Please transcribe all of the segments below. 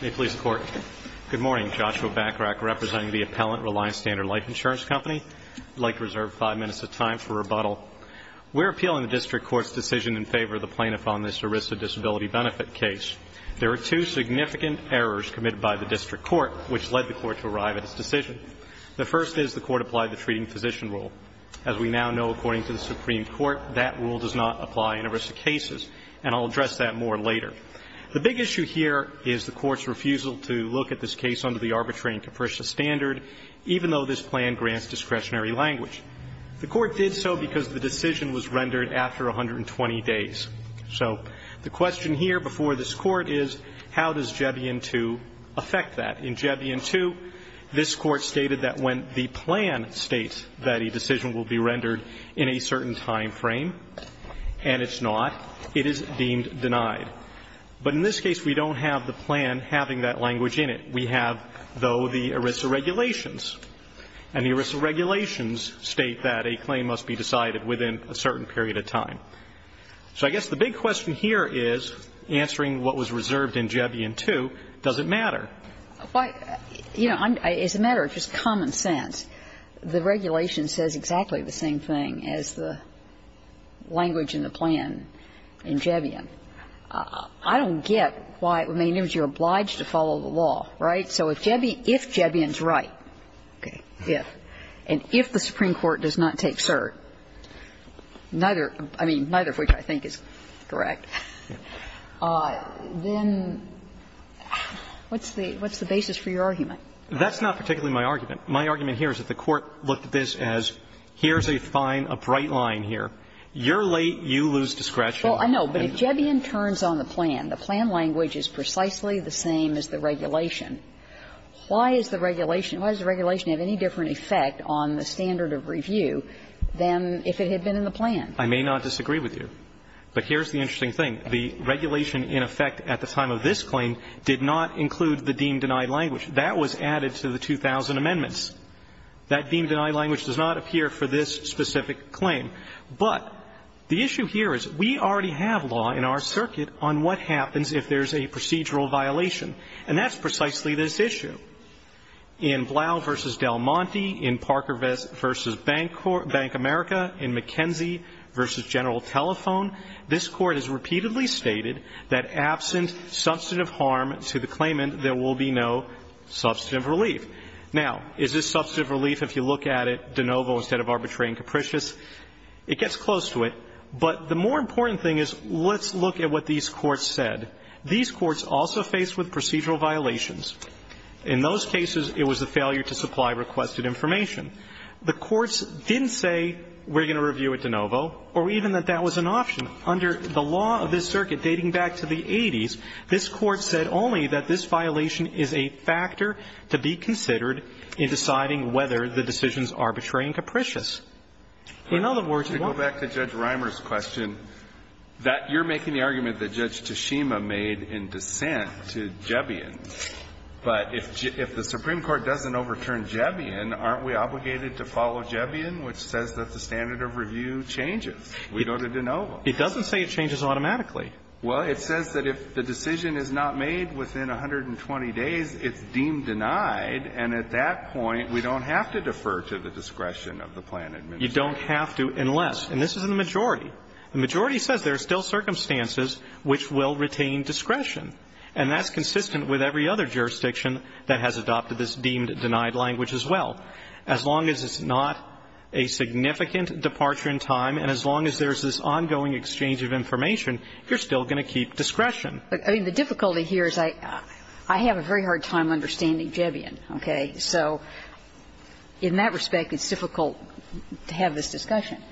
May it please the Court. Good morning. Joshua Bacharach, representing the appellant Reliant Standard Life Insurance Company. I'd like to reserve five minutes of time for rebuttal. We're appealing the district court's decision in favor of the plaintiff on this ERISA disability benefit case. There are two significant errors committed by the district court which led the court to arrive at its decision. The first is the court applied the treating physician rule. As we now know, according to the Supreme Court, that rule does not apply in ERISA cases, and I'll address that more later. The big issue here is the court's refusal to look at this case under the arbitrary and capricious standard, even though this plan grants discretionary language. The court did so because the decision was rendered after 120 days. So the question here before this court is, how does Jebion II affect that? In Jebion II, this court stated that when the plan states that a decision will be rendered in a certain timeframe, and it's not, it is deemed denied. But in this case, we don't have the plan having that language in it. We have, though, the ERISA regulations. And the ERISA regulations state that a claim must be decided within a certain period of time. So I guess the big question here is, answering what was reserved in Jebion II, does it matter? Well, you know, it's a matter of just common sense. The regulation says exactly the same thing as the language in the plan in Jebion. I don't get why, I mean, you're obliged to follow the law, right? So if Jebion's right, okay, if, and if the Supreme Court does not take cert, neither of which I think is correct, then what's the basis for your argument? That's not particularly my argument. My argument here is that the Court looked at this as, here's a fine, a bright line here. You're late, you lose discretion. Well, I know, but if Jebion turns on the plan, the plan language is precisely the same as the regulation. Why is the regulation, why does the regulation have any different effect on the standard of review than if it had been in the plan? I may not disagree with you, but here's the interesting thing. The regulation in effect at the time of this claim did not include the deemed denied language. That was added to the 2,000 amendments. That deemed denied language does not appear for this specific claim. But the issue here is we already have law in our circuit on what happens if there's a procedural violation, and that's precisely this issue. In Blau v. Del Monte, in Parker v. Bank America, in McKenzie v. General Telephone, this Court has repeatedly stated that absent substantive harm to the claimant, there will be no substantive relief. Now, is this substantive relief, if you look at it, de novo instead of arbitrary and capricious? It gets close to it, but the more important thing is let's look at what these courts said. These courts also faced with procedural violations. In those cases, it was a failure to supply requested information. The courts didn't say we're going to review it de novo or even that that was an option. Under the law of this circuit dating back to the 80s, this Court said only that this violation is a factor to be considered in deciding whether the decisions are arbitrary and capricious. In other words, you don't need to go back to Judge Reimer's question, that you're making the argument that Judge Toshima made in dissent to Jebion, but if the Supreme Court doesn't overturn Jebion, aren't we obligated to follow Jebion, which says that the standard of review changes? We go to de novo. It doesn't say it changes automatically. Well, it says that if the decision is not made within 120 days, it's deemed denied, and at that point, we don't have to defer to the discretion of the plan administrator. You don't have to unless, and this is in the majority, the majority says there are still circumstances which will retain discretion, and that's consistent with every other jurisdiction that has adopted this deemed denied language as well. As long as it's not a significant departure in time and as long as there's this ongoing exchange of information, you're still going to keep discretion. I mean, the difficulty here is I have a very hard time understanding Jebion, okay? So in that respect, it's difficult to have this discussion.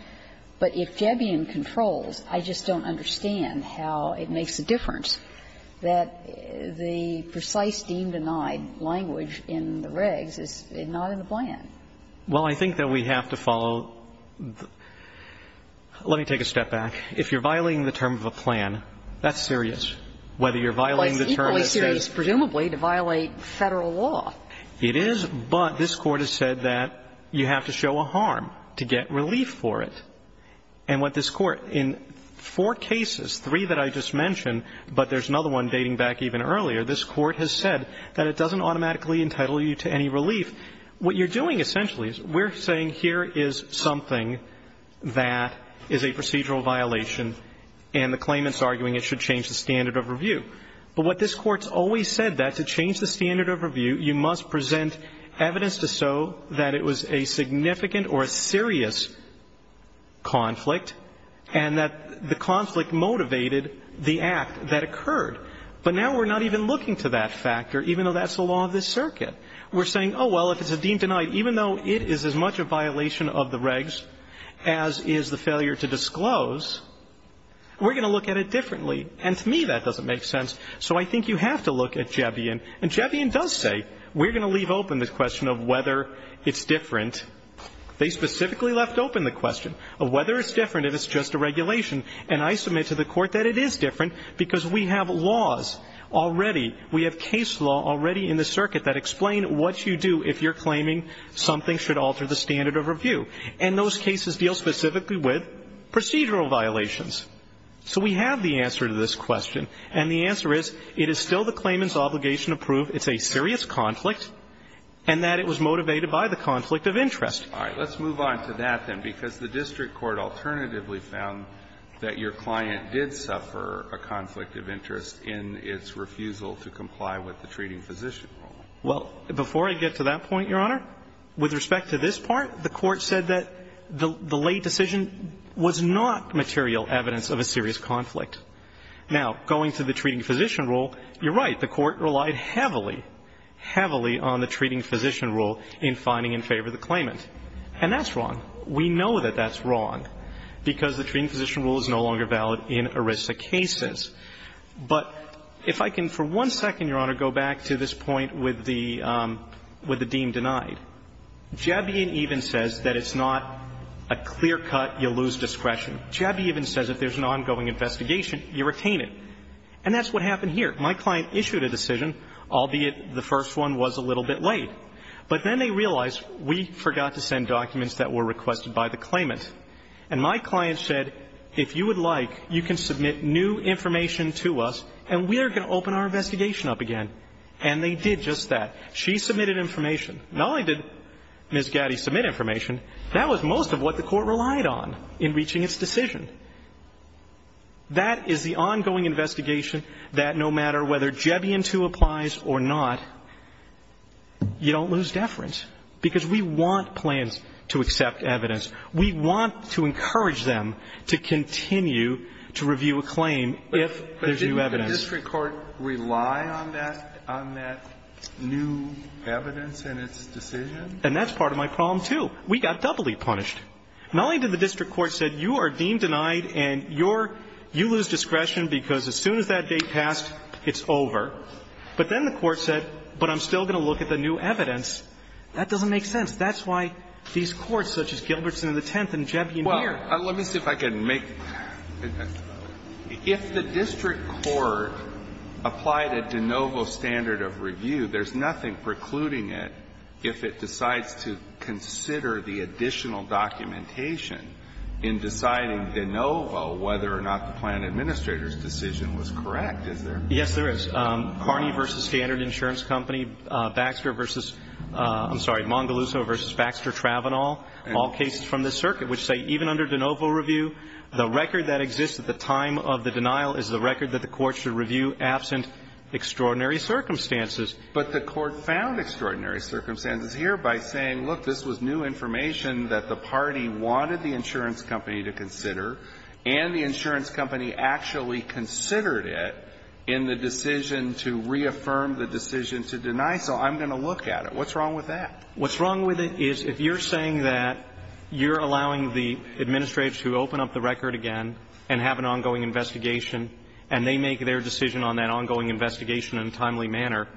But if Jebion controls, I just don't understand how it makes a difference that the precise deemed denied language in the regs is not in the plan. Well, I think that we have to follow the – let me take a step back. If you're violating the term of a plan, that's serious. Whether you're violating the term that says – But it's equally serious, presumably, to violate Federal law. It is, but this Court has said that you have to show a harm to get relief for it. And what this Court, in four cases, three that I just mentioned, but there's another one dating back even earlier, this Court has said that it doesn't automatically entitle you to any relief. What you're doing, essentially, is we're saying here is something that is a procedural violation and the claimant's arguing it should change the standard of review. But what this Court's always said, that to change the standard of review, you must present evidence to show that it was a significant or a serious conflict and that the conflict motivated the act that occurred. But now we're not even looking to that factor, even though that's the law of this circuit. We're saying, oh, well, if it's a deemed denied, even though it is as much a violation of the regs as is the failure to disclose, we're going to look at it differently. And to me, that doesn't make sense. So I think you have to look at Jevian. And Jevian does say we're going to leave open the question of whether it's different. They specifically left open the question of whether it's different if it's just a regulation. And I submit to the Court that it is different because we have laws already, we have case law already in the circuit that explain what you do if you're claiming something should alter the standard of review. And those cases deal specifically with procedural violations. So we have the answer to this question. And the answer is, it is still the claimant's obligation to prove it's a serious conflict and that it was motivated by the conflict of interest. All right. Let's move on to that, then, because the district court alternatively found that your client did suffer a conflict of interest in its refusal to comply with the treating physician rule. Well, before I get to that point, Your Honor, with respect to this part, the Court said that the late decision was not material evidence of a serious conflict. Now, going to the treating physician rule, you're right. The Court relied heavily, heavily on the treating physician rule in finding in favor of the claimant. And that's wrong. We know that that's wrong because the treating physician rule is no longer valid in ERISA cases. But if I can for one second, Your Honor, go back to this point with the deem denied. JABI even says that it's not a clear cut, you lose discretion. JABI even says if there's an ongoing investigation, you retain it. And that's what happened here. My client issued a decision, albeit the first one was a little bit late. But then they realized, we forgot to send documents that were requested by the claimant. And my client said, if you would like, you can submit new information to us and we are going to open our investigation up again. And they did just that. She submitted information. Not only did Ms. Gaddy submit information, that was most of what the Court relied on in reaching its decision. That is the ongoing investigation that no matter whether JABI in two applies or not, you don't lose deference because we want plans to accept evidence. We want to encourage them to continue to review a claim if there's new evidence. But didn't the district court rely on that new evidence in its decision? And that's part of my problem, too. We got doubly punished. Not only did the district court say you are deem denied and you lose discretion because as soon as that date passed, it's over. But then the Court said, but I'm still going to look at the new evidence. That doesn't make sense. That's why these courts such as Gilbertson and the Tenth and JABI and Muir. Alito, let me see if I can make – if the district court applied a de novo standard of review, there's nothing precluding it if it decides to consider the additional documentation in deciding de novo whether or not the plan administrator's decision was correct, is there? Yes, there is. Carney v. Standard Insurance Company, Baxter v. – I'm sorry, Mongaluso v. Baxter Travenol, all cases from this circuit which say even under de novo review, the record that exists at the time of the denial is the record that the Court should review absent extraordinary circumstances. But the Court found extraordinary circumstances here by saying, look, this was new information that the party wanted the insurance company to consider, and the insurance company actually considered it in the decision to reaffirm the decision to deny. So I'm going to look at it. What's wrong with that? What's wrong with it is if you're saying that you're allowing the administrators to open up the record again and have an ongoing investigation, and they make their decision on that ongoing investigation in a timely manner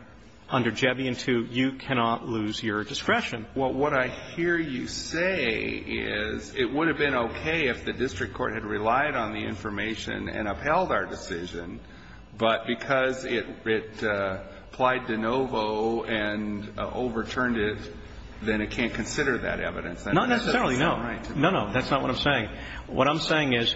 under JABI and two, you cannot lose your discretion. Well, what I hear you say is it would have been okay if the district court had relied on the information and upheld our decision, but because it applied de novo and overturned it, then it can't consider that evidence. That doesn't sound right to me. Not necessarily, no. No, no, that's not what I'm saying. What I'm saying is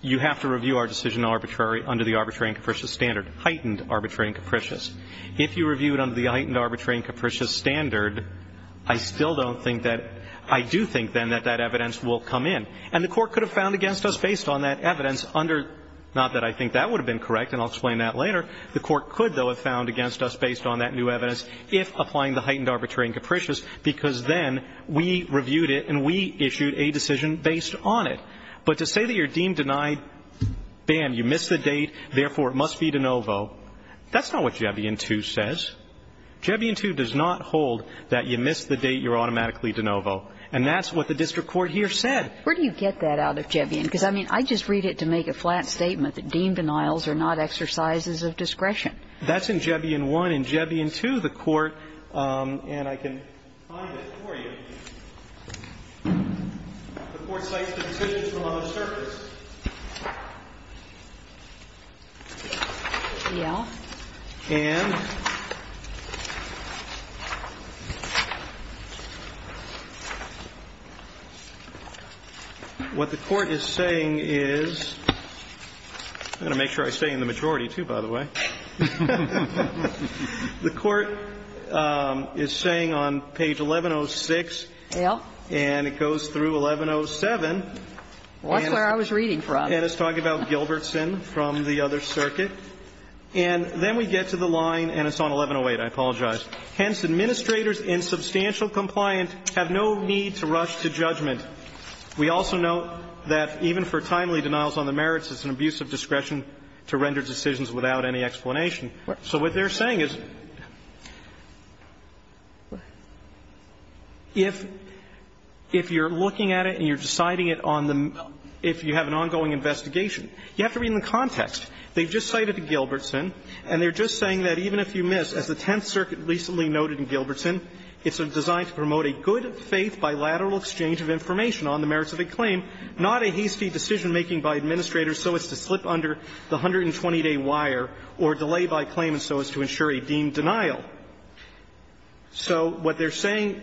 you have to review our decision under the arbitrary and capricious standard, heightened arbitrary and capricious. If you review it under the heightened arbitrary and capricious standard, I still don't think that – I do think, then, that that evidence will come in. And the court could have found against us based on that evidence under – not that I think that would have been correct, and I'll explain that later. The court could, though, have found against us based on that new evidence if applying the heightened arbitrary and capricious, because then we reviewed it and we issued a decision based on it. But to say that you're deemed denied, bam, you missed the date, therefore it must be de novo, that's not what JABI and two says. JABI and two does not hold that you missed the date, you're automatically de novo. And that's what the district court here said. Where do you get that out of JABI and two? Because, I mean, I just read it to make a flat statement that deemed denials are not exercises of discretion. That's in JABI and one. In JABI and two, the court – and I can find it for you – the court cites the decisions from on the surface. Yeah. And what the court is saying is – I'm going to make sure I stay in the majority, too, by the way. The court is saying on page 1106, and it goes through 1107. That's where I was reading from. And it's talking about Gilbertson from the other circuit. And then we get to the line, and it's on 1108. I apologize. Hence, administrators in substantial compliant have no need to rush to judgment. We also note that even for timely denials on the merits, it's an abuse of discretion to render decisions without any explanation. So what they're saying is if you're looking at it and you're deciding it on the – if you have an ongoing investigation, you have to read in the context. They've just cited Gilbertson, and they're just saying that even if you miss, as the Tenth Circuit recently noted in Gilbertson, it's designed to promote a good-faith bilateral exchange of information on the merits of a claim, not a hasty decision-making by administrators so as to slip under the 120-day wire or delay by claim so as to ensure a deemed denial. So what they're saying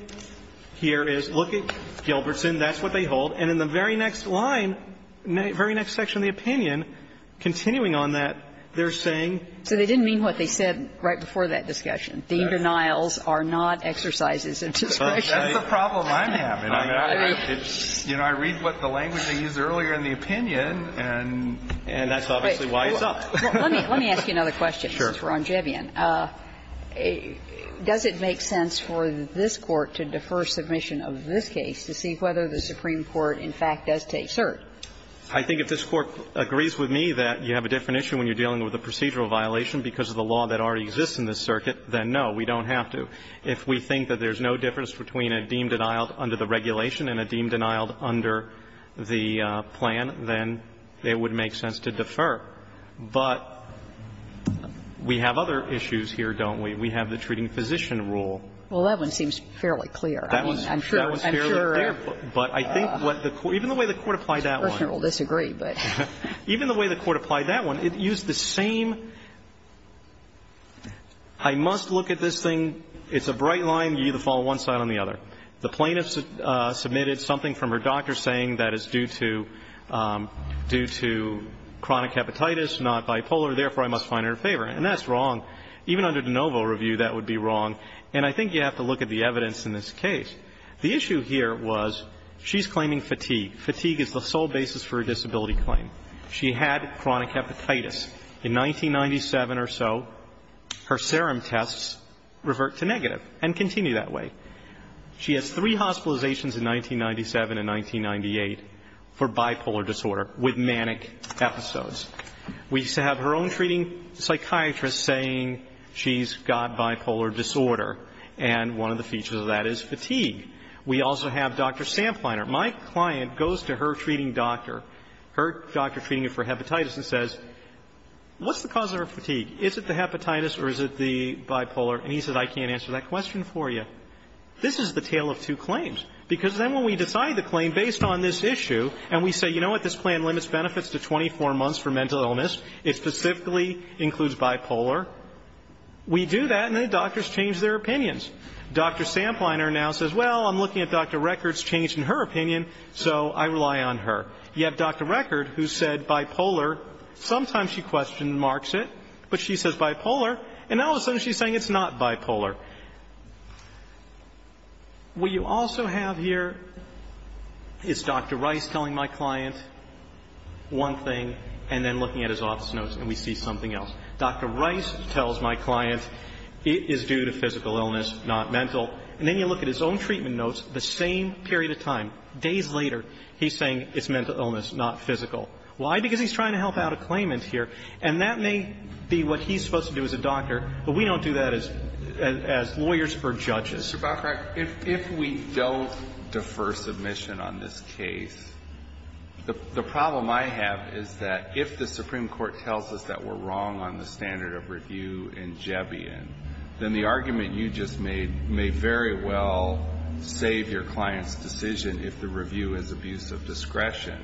here is look at Gilbertson. That's what they hold. And in the very next line, very next section of the opinion, continuing on that, they're saying they're saying. So they didn't mean what they said right before that discussion. Deemed denials are not exercises of discretion. That's the problem I'm having. I read what the language they used earlier in the opinion, and that's obviously why it's up. Let me ask you another question, since we're on Jevian. Sure. Does it make sense for this Court to defer submission of this case to see whether the Supreme Court in fact does take cert? I think if this Court agrees with me that you have a different issue when you're dealing with a procedural violation because of the law that already exists in this circuit, then no, we don't have to. If we think that there's no difference between a deemed denial under the regulation and a deemed denial under the plan, then it would make sense to defer. But we have other issues here, don't we? We have the treating physician rule. Well, that one seems fairly clear. I mean, I'm sure, I'm sure. But I think what the Court – even the way the Court applied that one. The questioner will disagree, but. Even the way the Court applied that one, it used the same, I must look at this thing, it's a bright line, you either fall on one side or the other. The plaintiff submitted something from her doctor saying that it's due to – due to chronic hepatitis, not bipolar, therefore, I must find her in favor. And that's wrong. Even under de novo review, that would be wrong. And I think you have to look at the evidence in this case. The issue here was she's claiming fatigue. Fatigue is the sole basis for a disability claim. She had chronic hepatitis. In 1997 or so, her serum tests revert to negative and continue that way. She has three hospitalizations in 1997 and 1998 for bipolar disorder with manic episodes. We have her own treating psychiatrist saying she's got bipolar disorder. And one of the features of that is fatigue. We also have Dr. Sampleiner. My client goes to her treating doctor, her doctor treating her for hepatitis and says, what's the cause of her fatigue? Is it the hepatitis or is it the bipolar? And he says, I can't answer that question for you. This is the tale of two claims. Because then when we decide the claim based on this issue and we say, you know what, this plan limits benefits to 24 months for mental illness. It specifically includes bipolar. We do that and the doctors change their opinions. Dr. Sampleiner now says, well, I'm looking at Dr. Record's change in her opinion, so I rely on her. You have Dr. Record who said bipolar. Sometimes she question marks it, but she says bipolar. And now all of a sudden she's saying it's not bipolar. What you also have here is Dr. Rice telling my client one thing and then looking at his office notes and we see something else. Dr. Rice tells my client it is due to physical illness, not mental. And then you look at his own treatment notes, the same period of time, days later, he's saying it's mental illness, not physical. Why? Because he's trying to help out a claimant here. And that may be what he's supposed to do as a doctor, but we don't do that as a doctor. We don't do that as lawyers or judges. Mr. Bacharach, if we don't defer submission on this case, the problem I have is that if the Supreme Court tells us that we're wrong on the standard of review in Jebbion, then the argument you just made may very well save your client's decision if the review is abuse of discretion.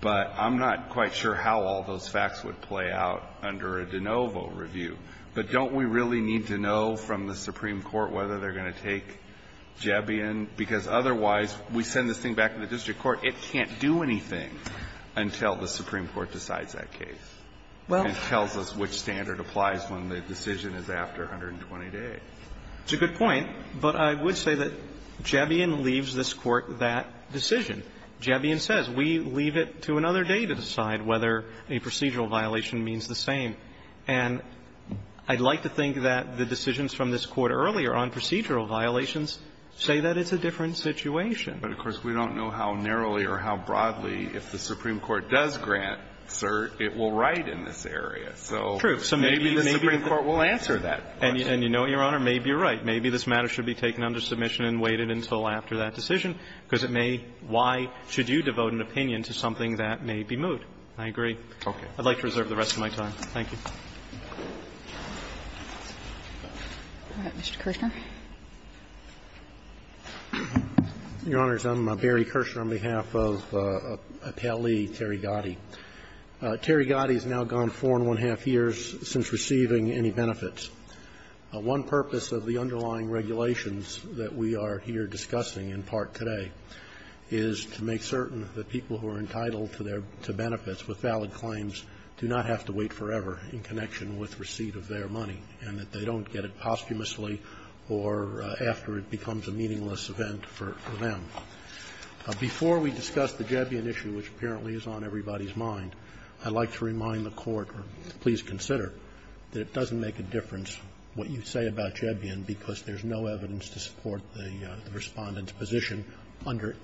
But I'm not quite sure how all those facts would play out under a de novo review. But don't we really need to know from the Supreme Court whether they're going to take Jebbion? Because otherwise, we send this thing back to the district court, it can't do anything until the Supreme Court decides that case and tells us which standard applies when the decision is after 120 days. It's a good point, but I would say that Jebbion leaves this Court that decision. Jebbion says, we leave it to another day to decide whether a procedural violation means the same. And I'd like to think that the decisions from this Court earlier on procedural violations say that it's a different situation. But, of course, we don't know how narrowly or how broadly, if the Supreme Court does grant cert, it will write in this area. So maybe the Supreme Court will answer that question. And you know, Your Honor, maybe you're right. Maybe this matter should be taken under submission and waited until after that decision, because it may why should you devote an opinion to something that may be moot. I agree. Okay. I'd like to reserve the rest of my time. Thank you. Ms. Kershner. Your Honors, I'm Barry Kershner on behalf of a pallee, Terry Gotti. Terry Gotti has now gone 4 1⁄2 years since receiving any benefits. One purpose of the underlying regulations that we are here discussing in part today is to make certain that people who are entitled to their benefits with valid claims do not have to wait forever in connection with receipt of their money, and that they don't get it posthumously or after it becomes a meaningless event for them. Before we discuss the Jebbien issue, which apparently is on everybody's mind, I'd like to remind the Court, please consider, that it doesn't make a difference what you say about Jebbien because there's no evidence to support the Respondent's claim that the Supreme Court's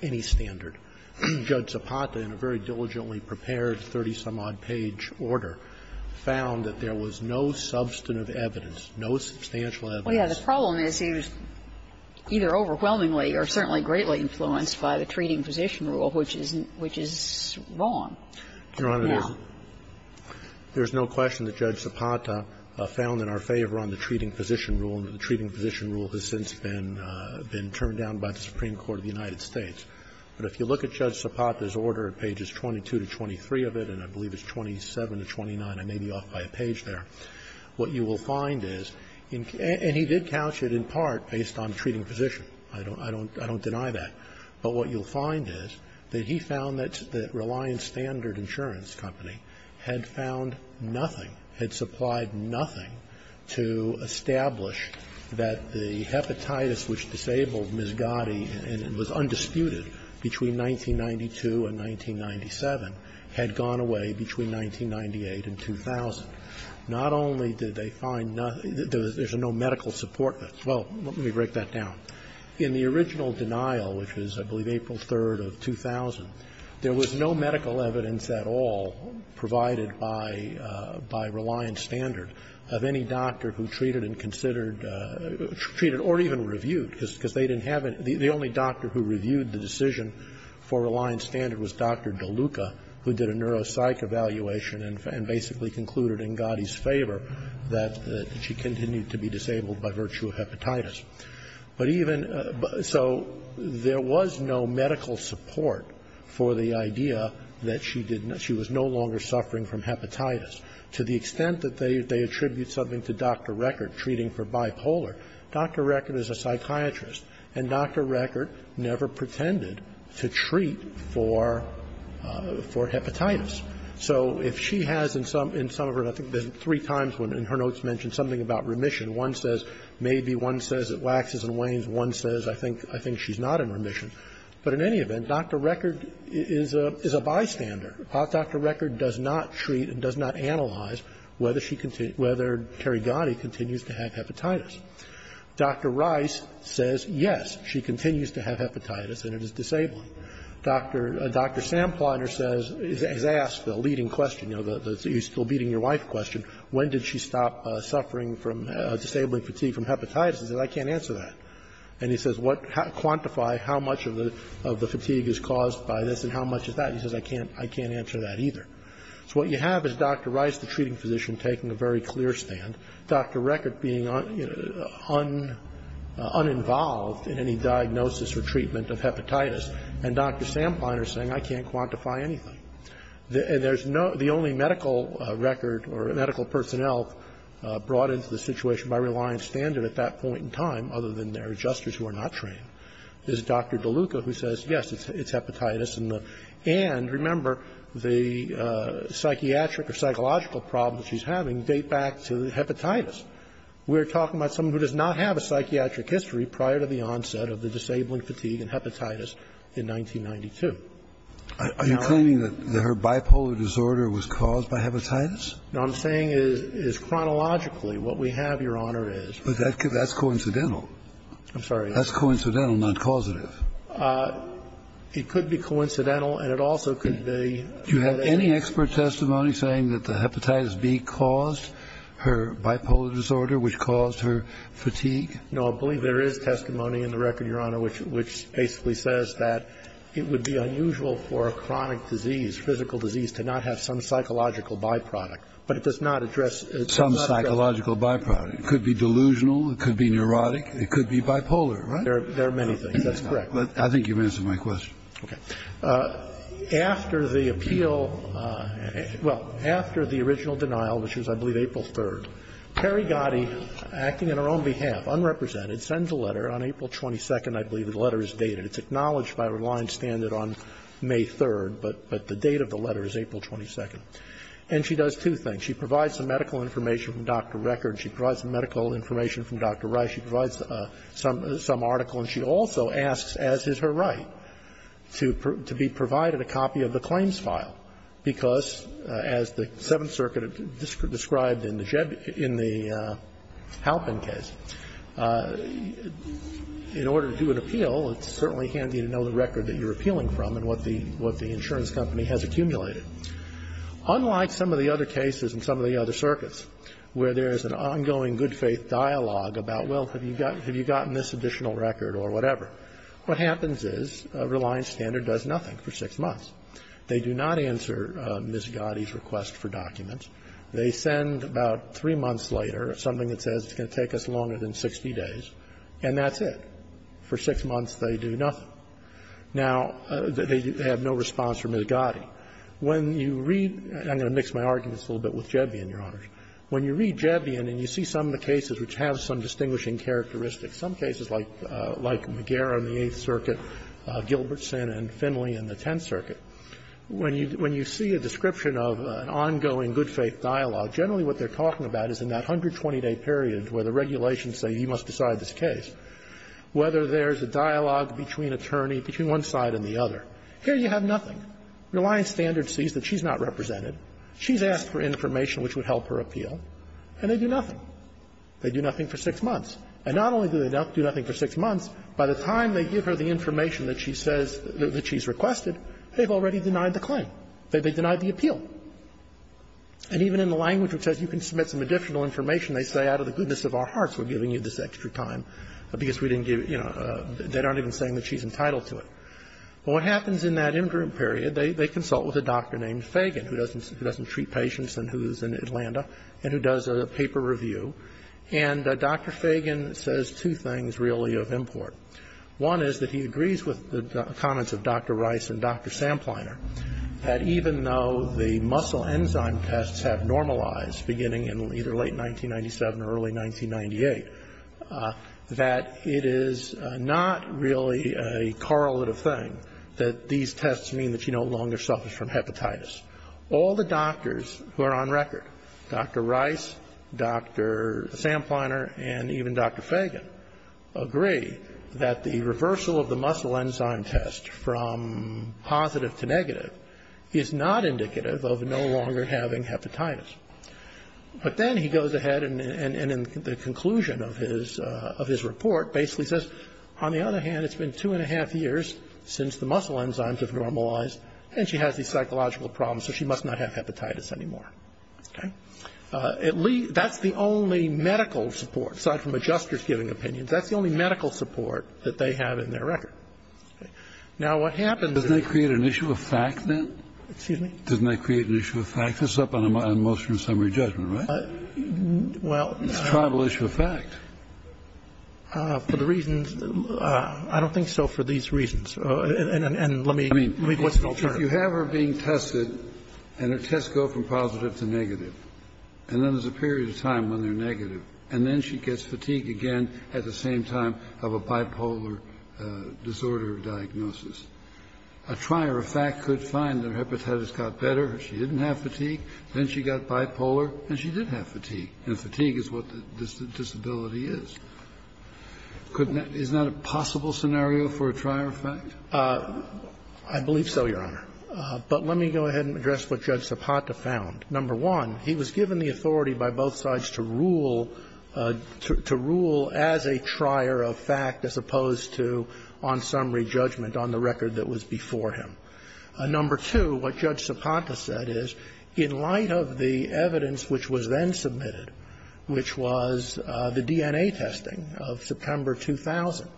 22-page order found that there was no substantive evidence, no substantial evidence. Well, yes. The problem is he was either overwhelmingly or certainly greatly influenced by the treating position rule, which is wrong. Your Honor, there's no question that Judge Zapata found in our favor on the treating position rule, and the treating position rule has since been turned down by the Supreme Court of the United States. But if you look at Judge Zapata's order, pages 22 to 23 of it, and I believe it's 27 to 29, I may be off by a page there, what you will find is, and he did couch it in part based on treating position. I don't deny that. But what you'll find is that he found that Reliance Standard Insurance Company had found nothing, had supplied nothing to establish that the hepatitis which disabled Ms. Gotti and was undisputed between 1992 and 1997 had gone away between 1998 and 2000. Not only did they find nothing, there's no medical support. Well, let me break that down. In the original denial, which was, I believe, April 3rd of 2000, there was no medical evidence at all provided by Reliance Standard of any doctor who treated and considered or even reviewed, because they didn't have any. The only doctor who reviewed the decision for Reliance Standard was Dr. DeLuca, who did a neuropsych evaluation and basically concluded in Gotti's favor that she continued to be disabled by virtue of hepatitis. But even so, there was no medical support for the idea that she did not she was no longer suffering from hepatitis, to the extent that they attribute something to Dr. Record, treating for bipolar, Dr. Record is a psychiatrist, and Dr. Record never pretended to treat for hepatitis. So if she has in some of her, I think there's three times when in her notes mentioned something about remission. One says maybe, one says it waxes and wanes, one says I think she's not in remission. But in any event, Dr. Record is a bystander. Dr. Record does not treat and does not analyze whether she, whether Terry Gotti continues to have hepatitis. Dr. Rice says, yes, she continues to have hepatitis and it is disabling. Dr. Sampleiner says, has asked the leading question, you know, the he's still beating your wife question, when did she stop suffering from disabling fatigue from hepatitis, and he says I can't answer that. And he says quantify how much of the fatigue is caused by this and how much is that. He says I can't, I can't answer that either. So what you have is Dr. Rice, the treating physician, taking a very clear stand. Dr. Record being uninvolved in any diagnosis or treatment of hepatitis, and Dr. Sampleiner saying I can't quantify anything. And there's no, the only medical record or medical personnel brought into the situation by reliance standard at that point in time, other than their adjusters who are not trained, is Dr. DeLuca, who says, yes, it's hepatitis, and the, and remember, the psychiatric or psychological problems she's having date back to hepatitis. We're talking about someone who does not have a psychiatric history prior to the onset of the disabling fatigue and hepatitis in 1992. Now, I'm saying is chronologically what we have, Your Honor, is. Kennedy, that's coincidental. I'm sorry. That's coincidental, not causative. It could be coincidental, and it also could be. Do you have any expert testimony saying that the hepatitis B caused her bipolar disorder, which caused her fatigue? No, I believe there is testimony in the record, Your Honor, which basically says that it would be unusual for a chronic disease, physical disease, to not have some psychological byproduct, but it does not address. Some psychological byproduct. It could be delusional, it could be neurotic, it could be bipolar. There are many things. That's correct. I think you've answered my question. Okay. After the appeal, well, after the original denial, which was, I believe, April 3rd, Terry Gotti, acting on her own behalf, unrepresented, sends a letter on April 22nd, I believe the letter is dated. It's acknowledged by reliance standard on May 3rd, but the date of the letter is April 22nd. And she does two things. She provides some medical information from Dr. Record. She provides some medical information from Dr. Rice. She provides some article, and she also asks, as is her right, to be provided a copy of the claims file, because, as the Seventh Circuit described in the Halpin case, in order to do an appeal, it's certainly handy to know the record that you're appealing from and what the insurance company has accumulated. Unlike some of the other cases and some of the other circuits, where there is an ongoing good-faith dialogue about, well, have you gotten this additional record, or whatever, what happens is reliance standard does nothing for six months. They do not answer Ms. Gotti's request for documents. They send about three months later something that says it's going to take us longer than 60 days, and that's it. For six months, they do nothing. Now, they have no response from Ms. Gotti. When you read – I'm going to mix my arguments a little bit with Jevian, Your Honors. When you read Jevian and you see some of the cases which have some distinguishing characteristics, some cases like McGarrett on the Eighth Circuit, Gilbertson and Finley in the Tenth Circuit, when you see a description of an ongoing good-faith dialogue, generally what they're talking about is in that 120-day period where the regulations say you must decide this case, whether there is a dialogue between attorney, between one side and the other. Here you have nothing. Reliance standard sees that she's not represented. She's asked for information which would help her appeal, and they do nothing. They do nothing for six months. And not only do they do nothing for six months, by the time they give her the information that she says – that she's requested, they've already denied the claim. They denied the appeal. And even in the language which says you can submit some additional information, they say out of the goodness of our hearts we're giving you this extra time because we didn't give – they aren't even saying that she's entitled to it. What happens in that interim period, they consult with a doctor named Fagan, who doesn't treat patients and who's in Atlanta, and who does a paper review. And Dr. Fagan says two things, really, of import. One is that he agrees with the comments of Dr. Rice and Dr. Sampleiner, that even though the muscle enzyme tests have normalized beginning in either late 1997 or early 1998, that it is not really a correlative thing that these tests mean that she no longer suffers from hepatitis. All the doctors who are on record, Dr. Rice, Dr. Sampleiner, and even Dr. Fagan, agree that the reversal of the muscle enzyme test from positive to negative is not indicative of no longer having hepatitis. But then he goes ahead and in the conclusion of his – of his report basically says, on the other hand, it's been two and a half years since the muscle enzymes tests have normalized, and she has these psychological problems, so she must not have hepatitis anymore. Okay? That's the only medical support, aside from a justice-giving opinion, that's the only medical support that they have in their record. Now, what happens is – Kennedy. Doesn't that create an issue of fact, then? Mann. Excuse me? Kennedy. Doesn't that create an issue of fact? That's up on a motion of summary judgment, right? Mann. Well – Kennedy. It's a tribal issue of fact. Mann. For the reasons – I don't think so for these reasons. And let me – I mean, if you have her being tested, and her tests go from positive to negative, and then there's a period of time when they're negative, and then she gets fatigued again at the same time of a bipolar disorder diagnosis, a trier of fact could find that her hepatitis got better, she didn't have fatigue, then she got bipolar, and she did have fatigue, and fatigue is what the disability is. I believe so, Your Honor. But let me go ahead and address what Judge Zapata found. Number one, he was given the authority by both sides to rule – to rule as a trier of fact as opposed to on summary judgment on the record that was before him. Number two, what Judge Zapata said is, in light of the evidence which was then submitted, which was the DNA testing of September 2000,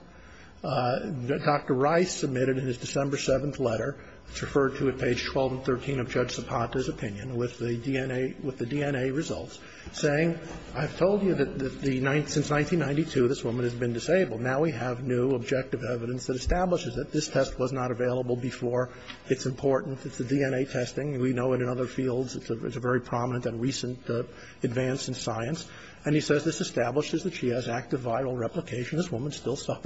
Dr. Rice submitted in his December 7th letter, it's referred to at page 12 and 13 of Judge Zapata's opinion with the DNA – with the DNA results, saying, I've told you that the – since 1992, this woman has been disabled. Now we have new objective evidence that establishes that this test was not available before, it's important, it's the DNA testing, we know it in other fields, it's a very prominent and recent advance in science. And he says this establishes that she has active viral replication, this woman still saying,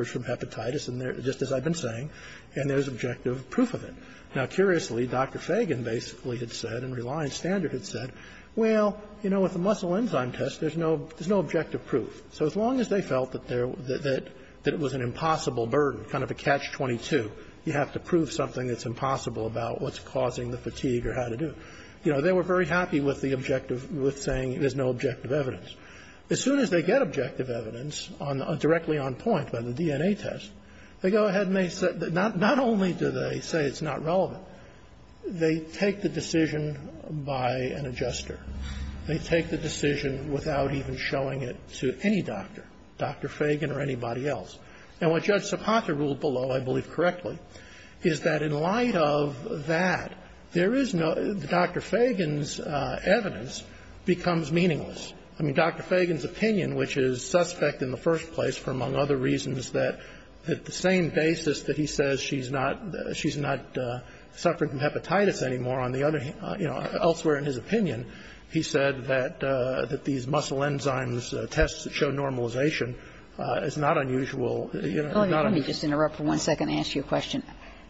and there's objective proof of it. Now, curiously, Dr. Fagan basically had said, and Reliance Standard had said, well, you know, with the muscle enzyme test, there's no – there's no objective proof, so as long as they felt that there – that it was an impossible burden, kind of a catch-22, you have to prove something that's impossible about what's causing the fatigue or how to do it. You know, they were very happy with the objective – with saying there's no objective evidence. As soon as they get objective evidence on – directly on point by the DNA test, they go ahead and they say – not only do they say it's not relevant, they take the decision by an adjuster. They take the decision without even showing it to any doctor, Dr. Fagan or anybody else. And what Judge Sopatra ruled below, I believe correctly, is that in light of that, there is no – Dr. Fagan's evidence becomes meaningless. I mean, Dr. Fagan's opinion, which is suspect in the first place for, among other reasons, that the same basis that he says she's not – she's not suffering from hepatitis anymore on the other – you know, elsewhere in his opinion, he said that these muscle enzymes tests that show normalization is not unusual. It's not unusual. Kagan. Let me just interrupt for one second and ask you a question.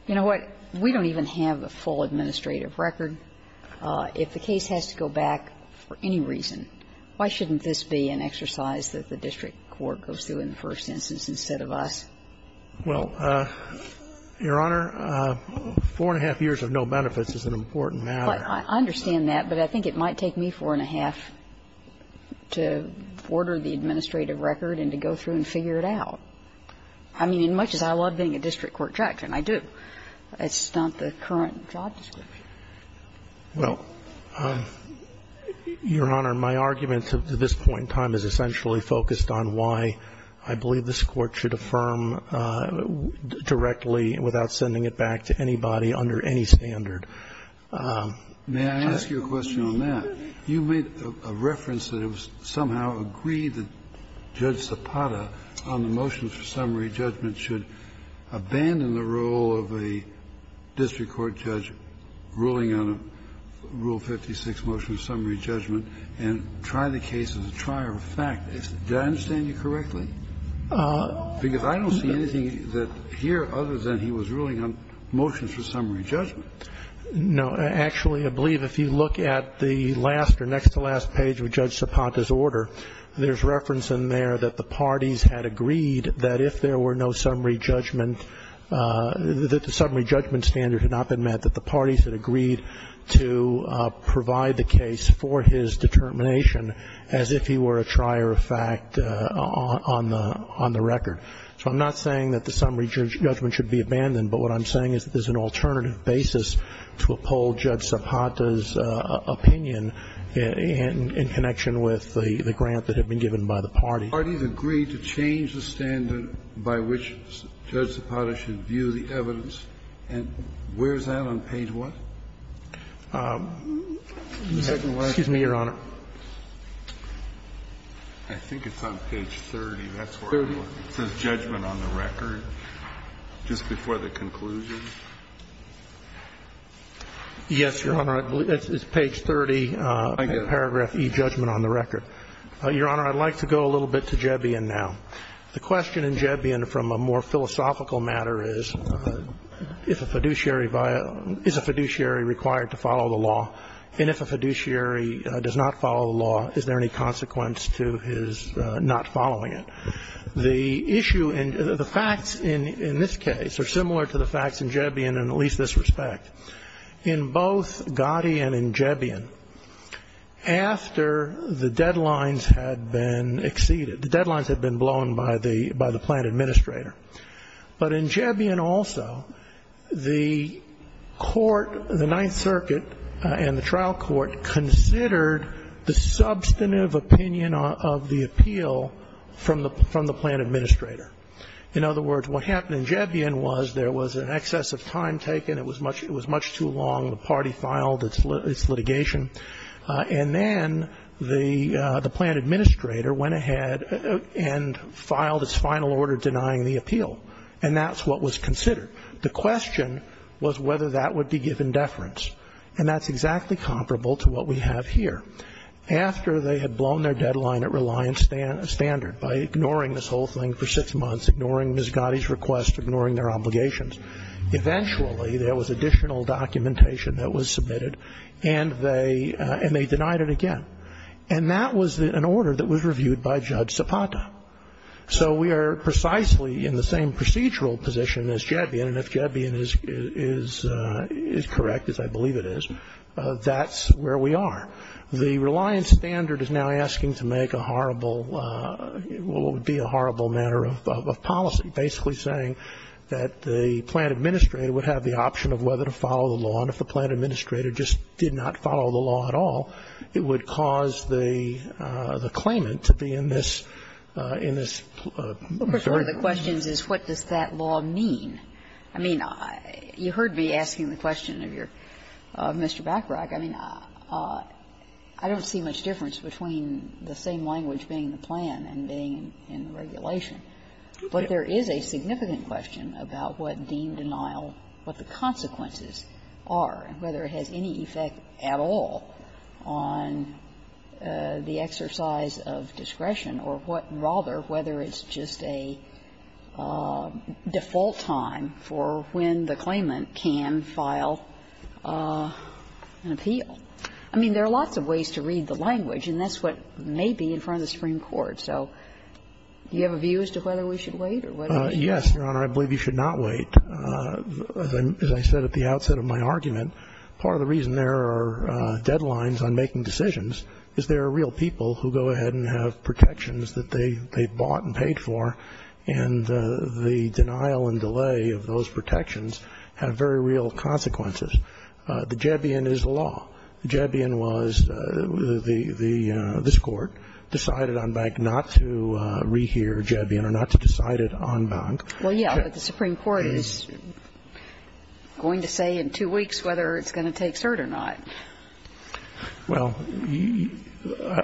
You know what? We don't even have a full administrative record. If the case has to go back for any reason, why shouldn't this be an exercise that the district court goes through in the first instance instead of us? Well, Your Honor, four-and-a-half years of no benefits is an important matter. But I understand that, but I think it might take me four-and-a-half to order the administrative record and to go through and figure it out. I mean, as much as I love being a district court judge, and I do, it's not the current job description. Well, Your Honor, my argument to this point in time is essentially focused on why I believe this Court should affirm directly without sending it back to anybody under any standard. May I ask you a question on that? You made a reference that it was somehow agreed that Judge Sepada, on the motions for summary judgment, should abandon the role of a district court judge ruling on a Rule 56 motion of summary judgment and try the case as a trier of fact. Did I understand you correctly? Because I don't see anything here other than he was ruling on motions for summary judgment. No. Actually, I believe if you look at the last or next to last page of Judge Sepada's opinion there, that the parties had agreed that if there were no summary judgment that the summary judgment standard had not been met, that the parties had agreed to provide the case for his determination as if he were a trier of fact on the record. So I'm not saying that the summary judgment should be abandoned, but what I'm saying is that there's an alternative basis to uphold Judge Sepada's opinion in connection with the grant that had been given by the parties. The parties agreed to change the standard by which Judge Sepada should view the evidence. And where is that on page what? The second one. Excuse me, Your Honor. I think it's on page 30. That's where it says judgment on the record, just before the conclusion. Yes, Your Honor. It's page 30, paragraph E, judgment on the record. Your Honor, I'd like to go a little bit to Jebbian now. The question in Jebbian from a more philosophical matter is, if a fiduciary is a fiduciary required to follow the law, and if a fiduciary does not follow the law, is there any consequence to his not following it? The issue in the facts in this case are similar to the facts in Jebbian in at least this respect. In both Gotti and in Jebbian, after the deadlines had been exceeded, the deadlines had been blown by the plan administrator. But in Jebbian also, the court, the Ninth Circuit and the trial court considered the substantive opinion of the appeal from the plan administrator. In other words, what happened in Jebbian was there was an excess of time taken. It was much too long. The party filed its litigation. And then the plan administrator went ahead and filed its final order denying the appeal, and that's what was considered. The question was whether that would be given deference, and that's exactly comparable to what we have here. After they had blown their deadline at reliance standard by ignoring this whole thing for six months, ignoring Ms. Gotti's request, ignoring their obligations, eventually there was additional documentation that was submitted, and they denied it again. And that was an order that was reviewed by Judge Zapata. So we are precisely in the same procedural position as Jebbian, and if Jebbian is correct, as I believe it is, that's where we are. The reliance standard is now asking to make a horrible, what would be a horrible matter of policy. Basically saying that the plan administrator would have the option of whether to follow the law, and if the plan administrator just did not follow the law at all, it would cause the claimant to be in this, in this. I'm sorry. The question is, what does that law mean? I mean, you heard me asking the question of your, of Mr. Bacharach. I mean, I don't see much difference between the same language being the plan and being in regulation. But there is a significant question about what deemed denial, what the consequences are, whether it has any effect at all on the exercise of discretion or what rather, whether it's just a default time for when the claimant can file an appeal. I mean, there are lots of ways to read the language, and that's what may be in front of the Supreme Court. So do you have a view as to whether we should wait or whether we should wait? Yes, Your Honor. I believe you should not wait. As I said at the outset of my argument, part of the reason there are deadlines on making decisions is there are real people who go ahead and have protections that they've bought and paid for, and the denial and delay of those protections have very real consequences. The Jebion is the law. The Jebion was the – this Court decided on Bank not to rehear Jebion or not to decide it on Bank. Well, yeah, but the Supreme Court is going to say in two weeks whether it's going to take cert or not. Well,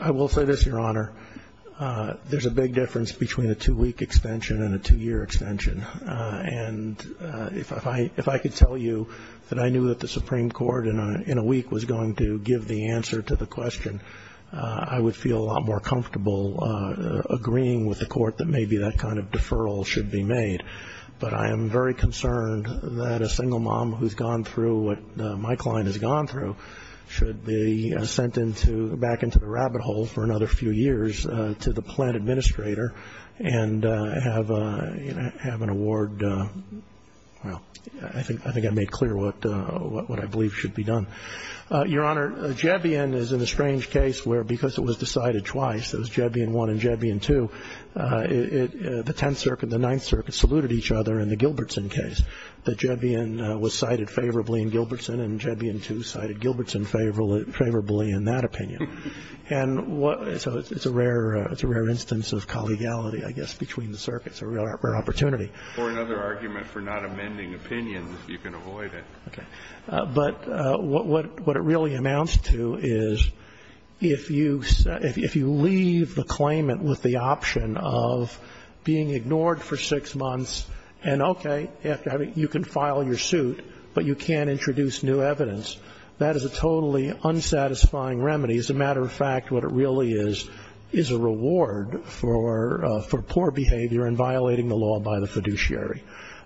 I will say this, Your Honor. There's a big difference between a two-week extension and a two-year extension. And if I could tell you that I knew that the Supreme Court in a week was going to give the answer to the question, I would feel a lot more comfortable agreeing with the Court that maybe that kind of deferral should be made. But I am very concerned that a single mom who's gone through what my client has gone through should be sent back into the rabbit hole for another few years to the Supreme Court and get an award. Well, I think I made clear what I believe should be done. Your Honor, Jebion is in a strange case where because it was decided twice, it was Jebion I and Jebion II, the Tenth Circuit and the Ninth Circuit saluted each other in the Gilbertson case. The Jebion was cited favorably in Gilbertson, and Jebion II cited Gilbertson favorably in that opinion. And so it's a rare instance of collegiality, I guess, between the circuits, a rare opportunity. Or another argument for not amending opinions, if you can avoid it. Okay. But what it really amounts to is if you leave the claimant with the option of being ignored for six months and, okay, you can file your suit, but you can't introduce new evidence, that is a totally unsatisfying remedy. As a matter of fact, what it really is, is a reward for poor behavior and violating the law by the fiduciary.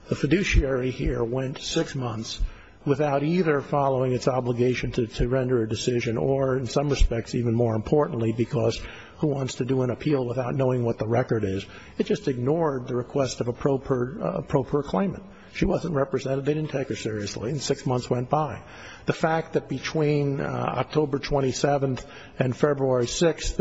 The fiduciary here went six months without either following its obligation to render a decision or, in some respects, even more importantly, because who wants to do an appeal without knowing what the record is? It just ignored the request of a pro-proclaimant. She wasn't represented. They didn't take her seriously. And six months went by. The fact that between October 27th and February 6th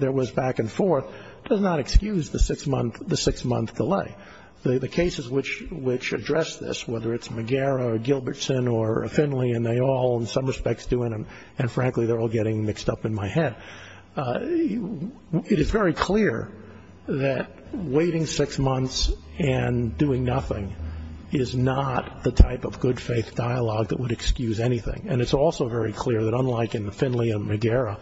there was back and forth does not excuse the six-month delay. The cases which address this, whether it's McGarrett or Gilbertson or Finley, and they all, in some respects, do, and frankly, they're all getting mixed up in my head, it is very clear that waiting six months and doing nothing is not the type of good faith dialogue that would excuse anything. And it's also very clear that unlike in Finley and McGarrett,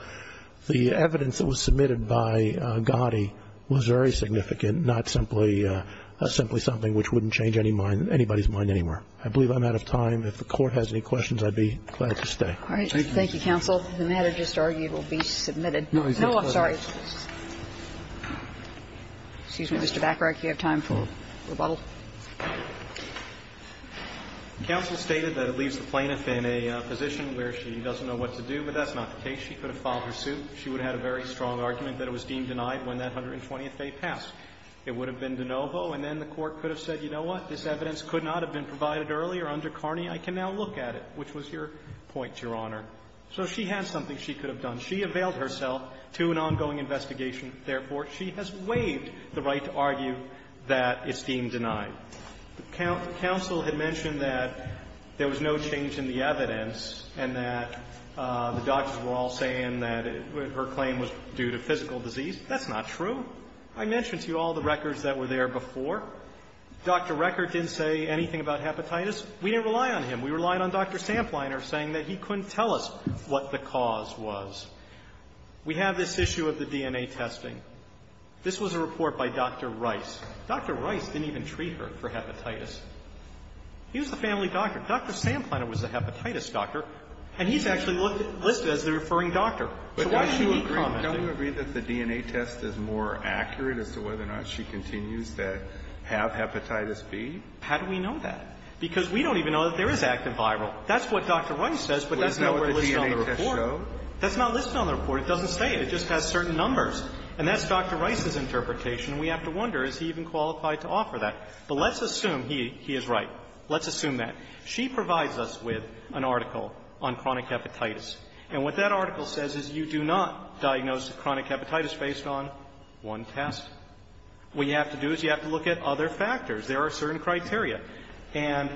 the evidence that was presented by Gotti was very significant, not simply something which wouldn't change anybody's mind anywhere. I believe I'm out of time. If the Court has any questions, I'd be glad to stay. All right. Thank you, counsel. The matter just argued will be submitted. No, I'm sorry. Excuse me, Mr. Bacharach, you have time for rebuttal? Counsel stated that it leaves the plaintiff in a position where she doesn't know what to do, but that's not the case. She could have filed her suit. She would have had a very strong argument that it was deemed denied when that 120th day passed. It would have been de novo, and then the Court could have said, you know what, this evidence could not have been provided earlier under Carney. I can now look at it, which was your point, Your Honor. So she has something she could have done. She availed herself to an ongoing investigation. Therefore, she has waived the right to argue that it's deemed denied. The counsel had mentioned that there was no change in the evidence and that the doctors were all saying that her claim was due to physical disease. That's not true. I mentioned to you all the records that were there before. Dr. Recker didn't say anything about hepatitis. We didn't rely on him. We relied on Dr. Sampleiner saying that he couldn't tell us what the cause was. We have this issue of the DNA testing. This was a report by Dr. Rice. Dr. Rice didn't even treat her for hepatitis. He was the family doctor. Dr. Sampleiner was the hepatitis doctor. And he's actually listed as the referring doctor. So why should he comment? Kennedy, can we agree that the DNA test is more accurate as to whether or not she continues to have hepatitis B? How do we know that? Because we don't even know that there is active viral. That's what Dr. Rice says, but that's not what's listed on the report. That's not listed on the report. It doesn't say it. It just has certain numbers. And that's Dr. Rice's interpretation. And we have to wonder, is he even qualified to offer that? But let's assume he is right. Let's assume that. She provides us with an article on chronic hepatitis. And what that article says is you do not diagnose chronic hepatitis based on one test. What you have to do is you have to look at other factors. There are certain criteria. And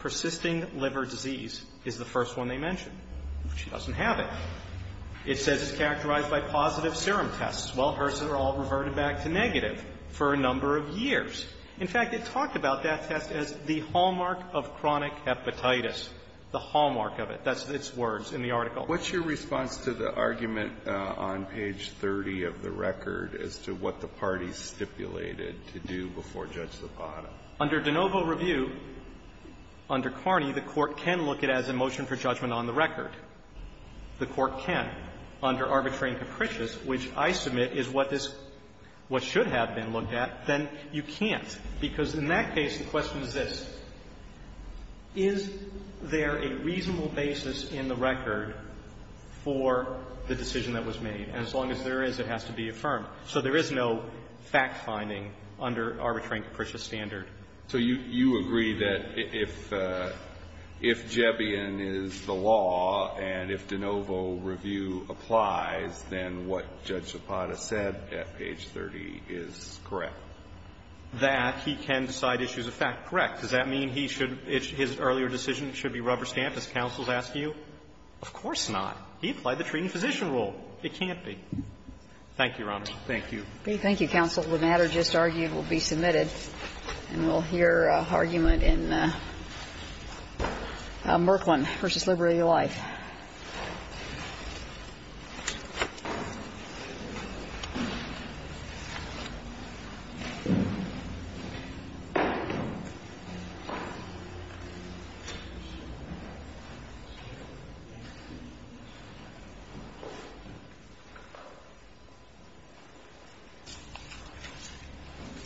persisting liver disease is the first one they mention. She doesn't have it. It says it's characterized by positive serum tests. Well, hers are all reverted back to negative for a number of years. In fact, it talked about that test as the hallmark of chronic hepatitis. The hallmark of it. That's its words in the article. Alito, what's your response to the argument on page 30 of the record as to what the parties stipulated to do before Judge Zapata? Under de novo review, under Carney, the Court can look at it as a motion for judgment on the record. The Court can. Under arbitrary and capricious, which I submit is what this what should have been looked at, then you can't. Because in that case, the question is this. Is there a reasonable basis in the record for the decision that was made? And as long as there is, it has to be affirmed. So there is no fact-finding under arbitrary and capricious standard. So you agree that if Jebian is the law and if de novo review applies, then what Judge Zapata said is correct, that he can decide issues of fact correct. Does that mean he should his earlier decision should be rubber stamped, as counsel has asked you? Of course not. He applied the treating physician rule. It can't be. Thank you, Your Honor. Thank you. Thank you, counsel. The matter just argued will be submitted. And we'll hear argument in Merklin v. Liberty of Life.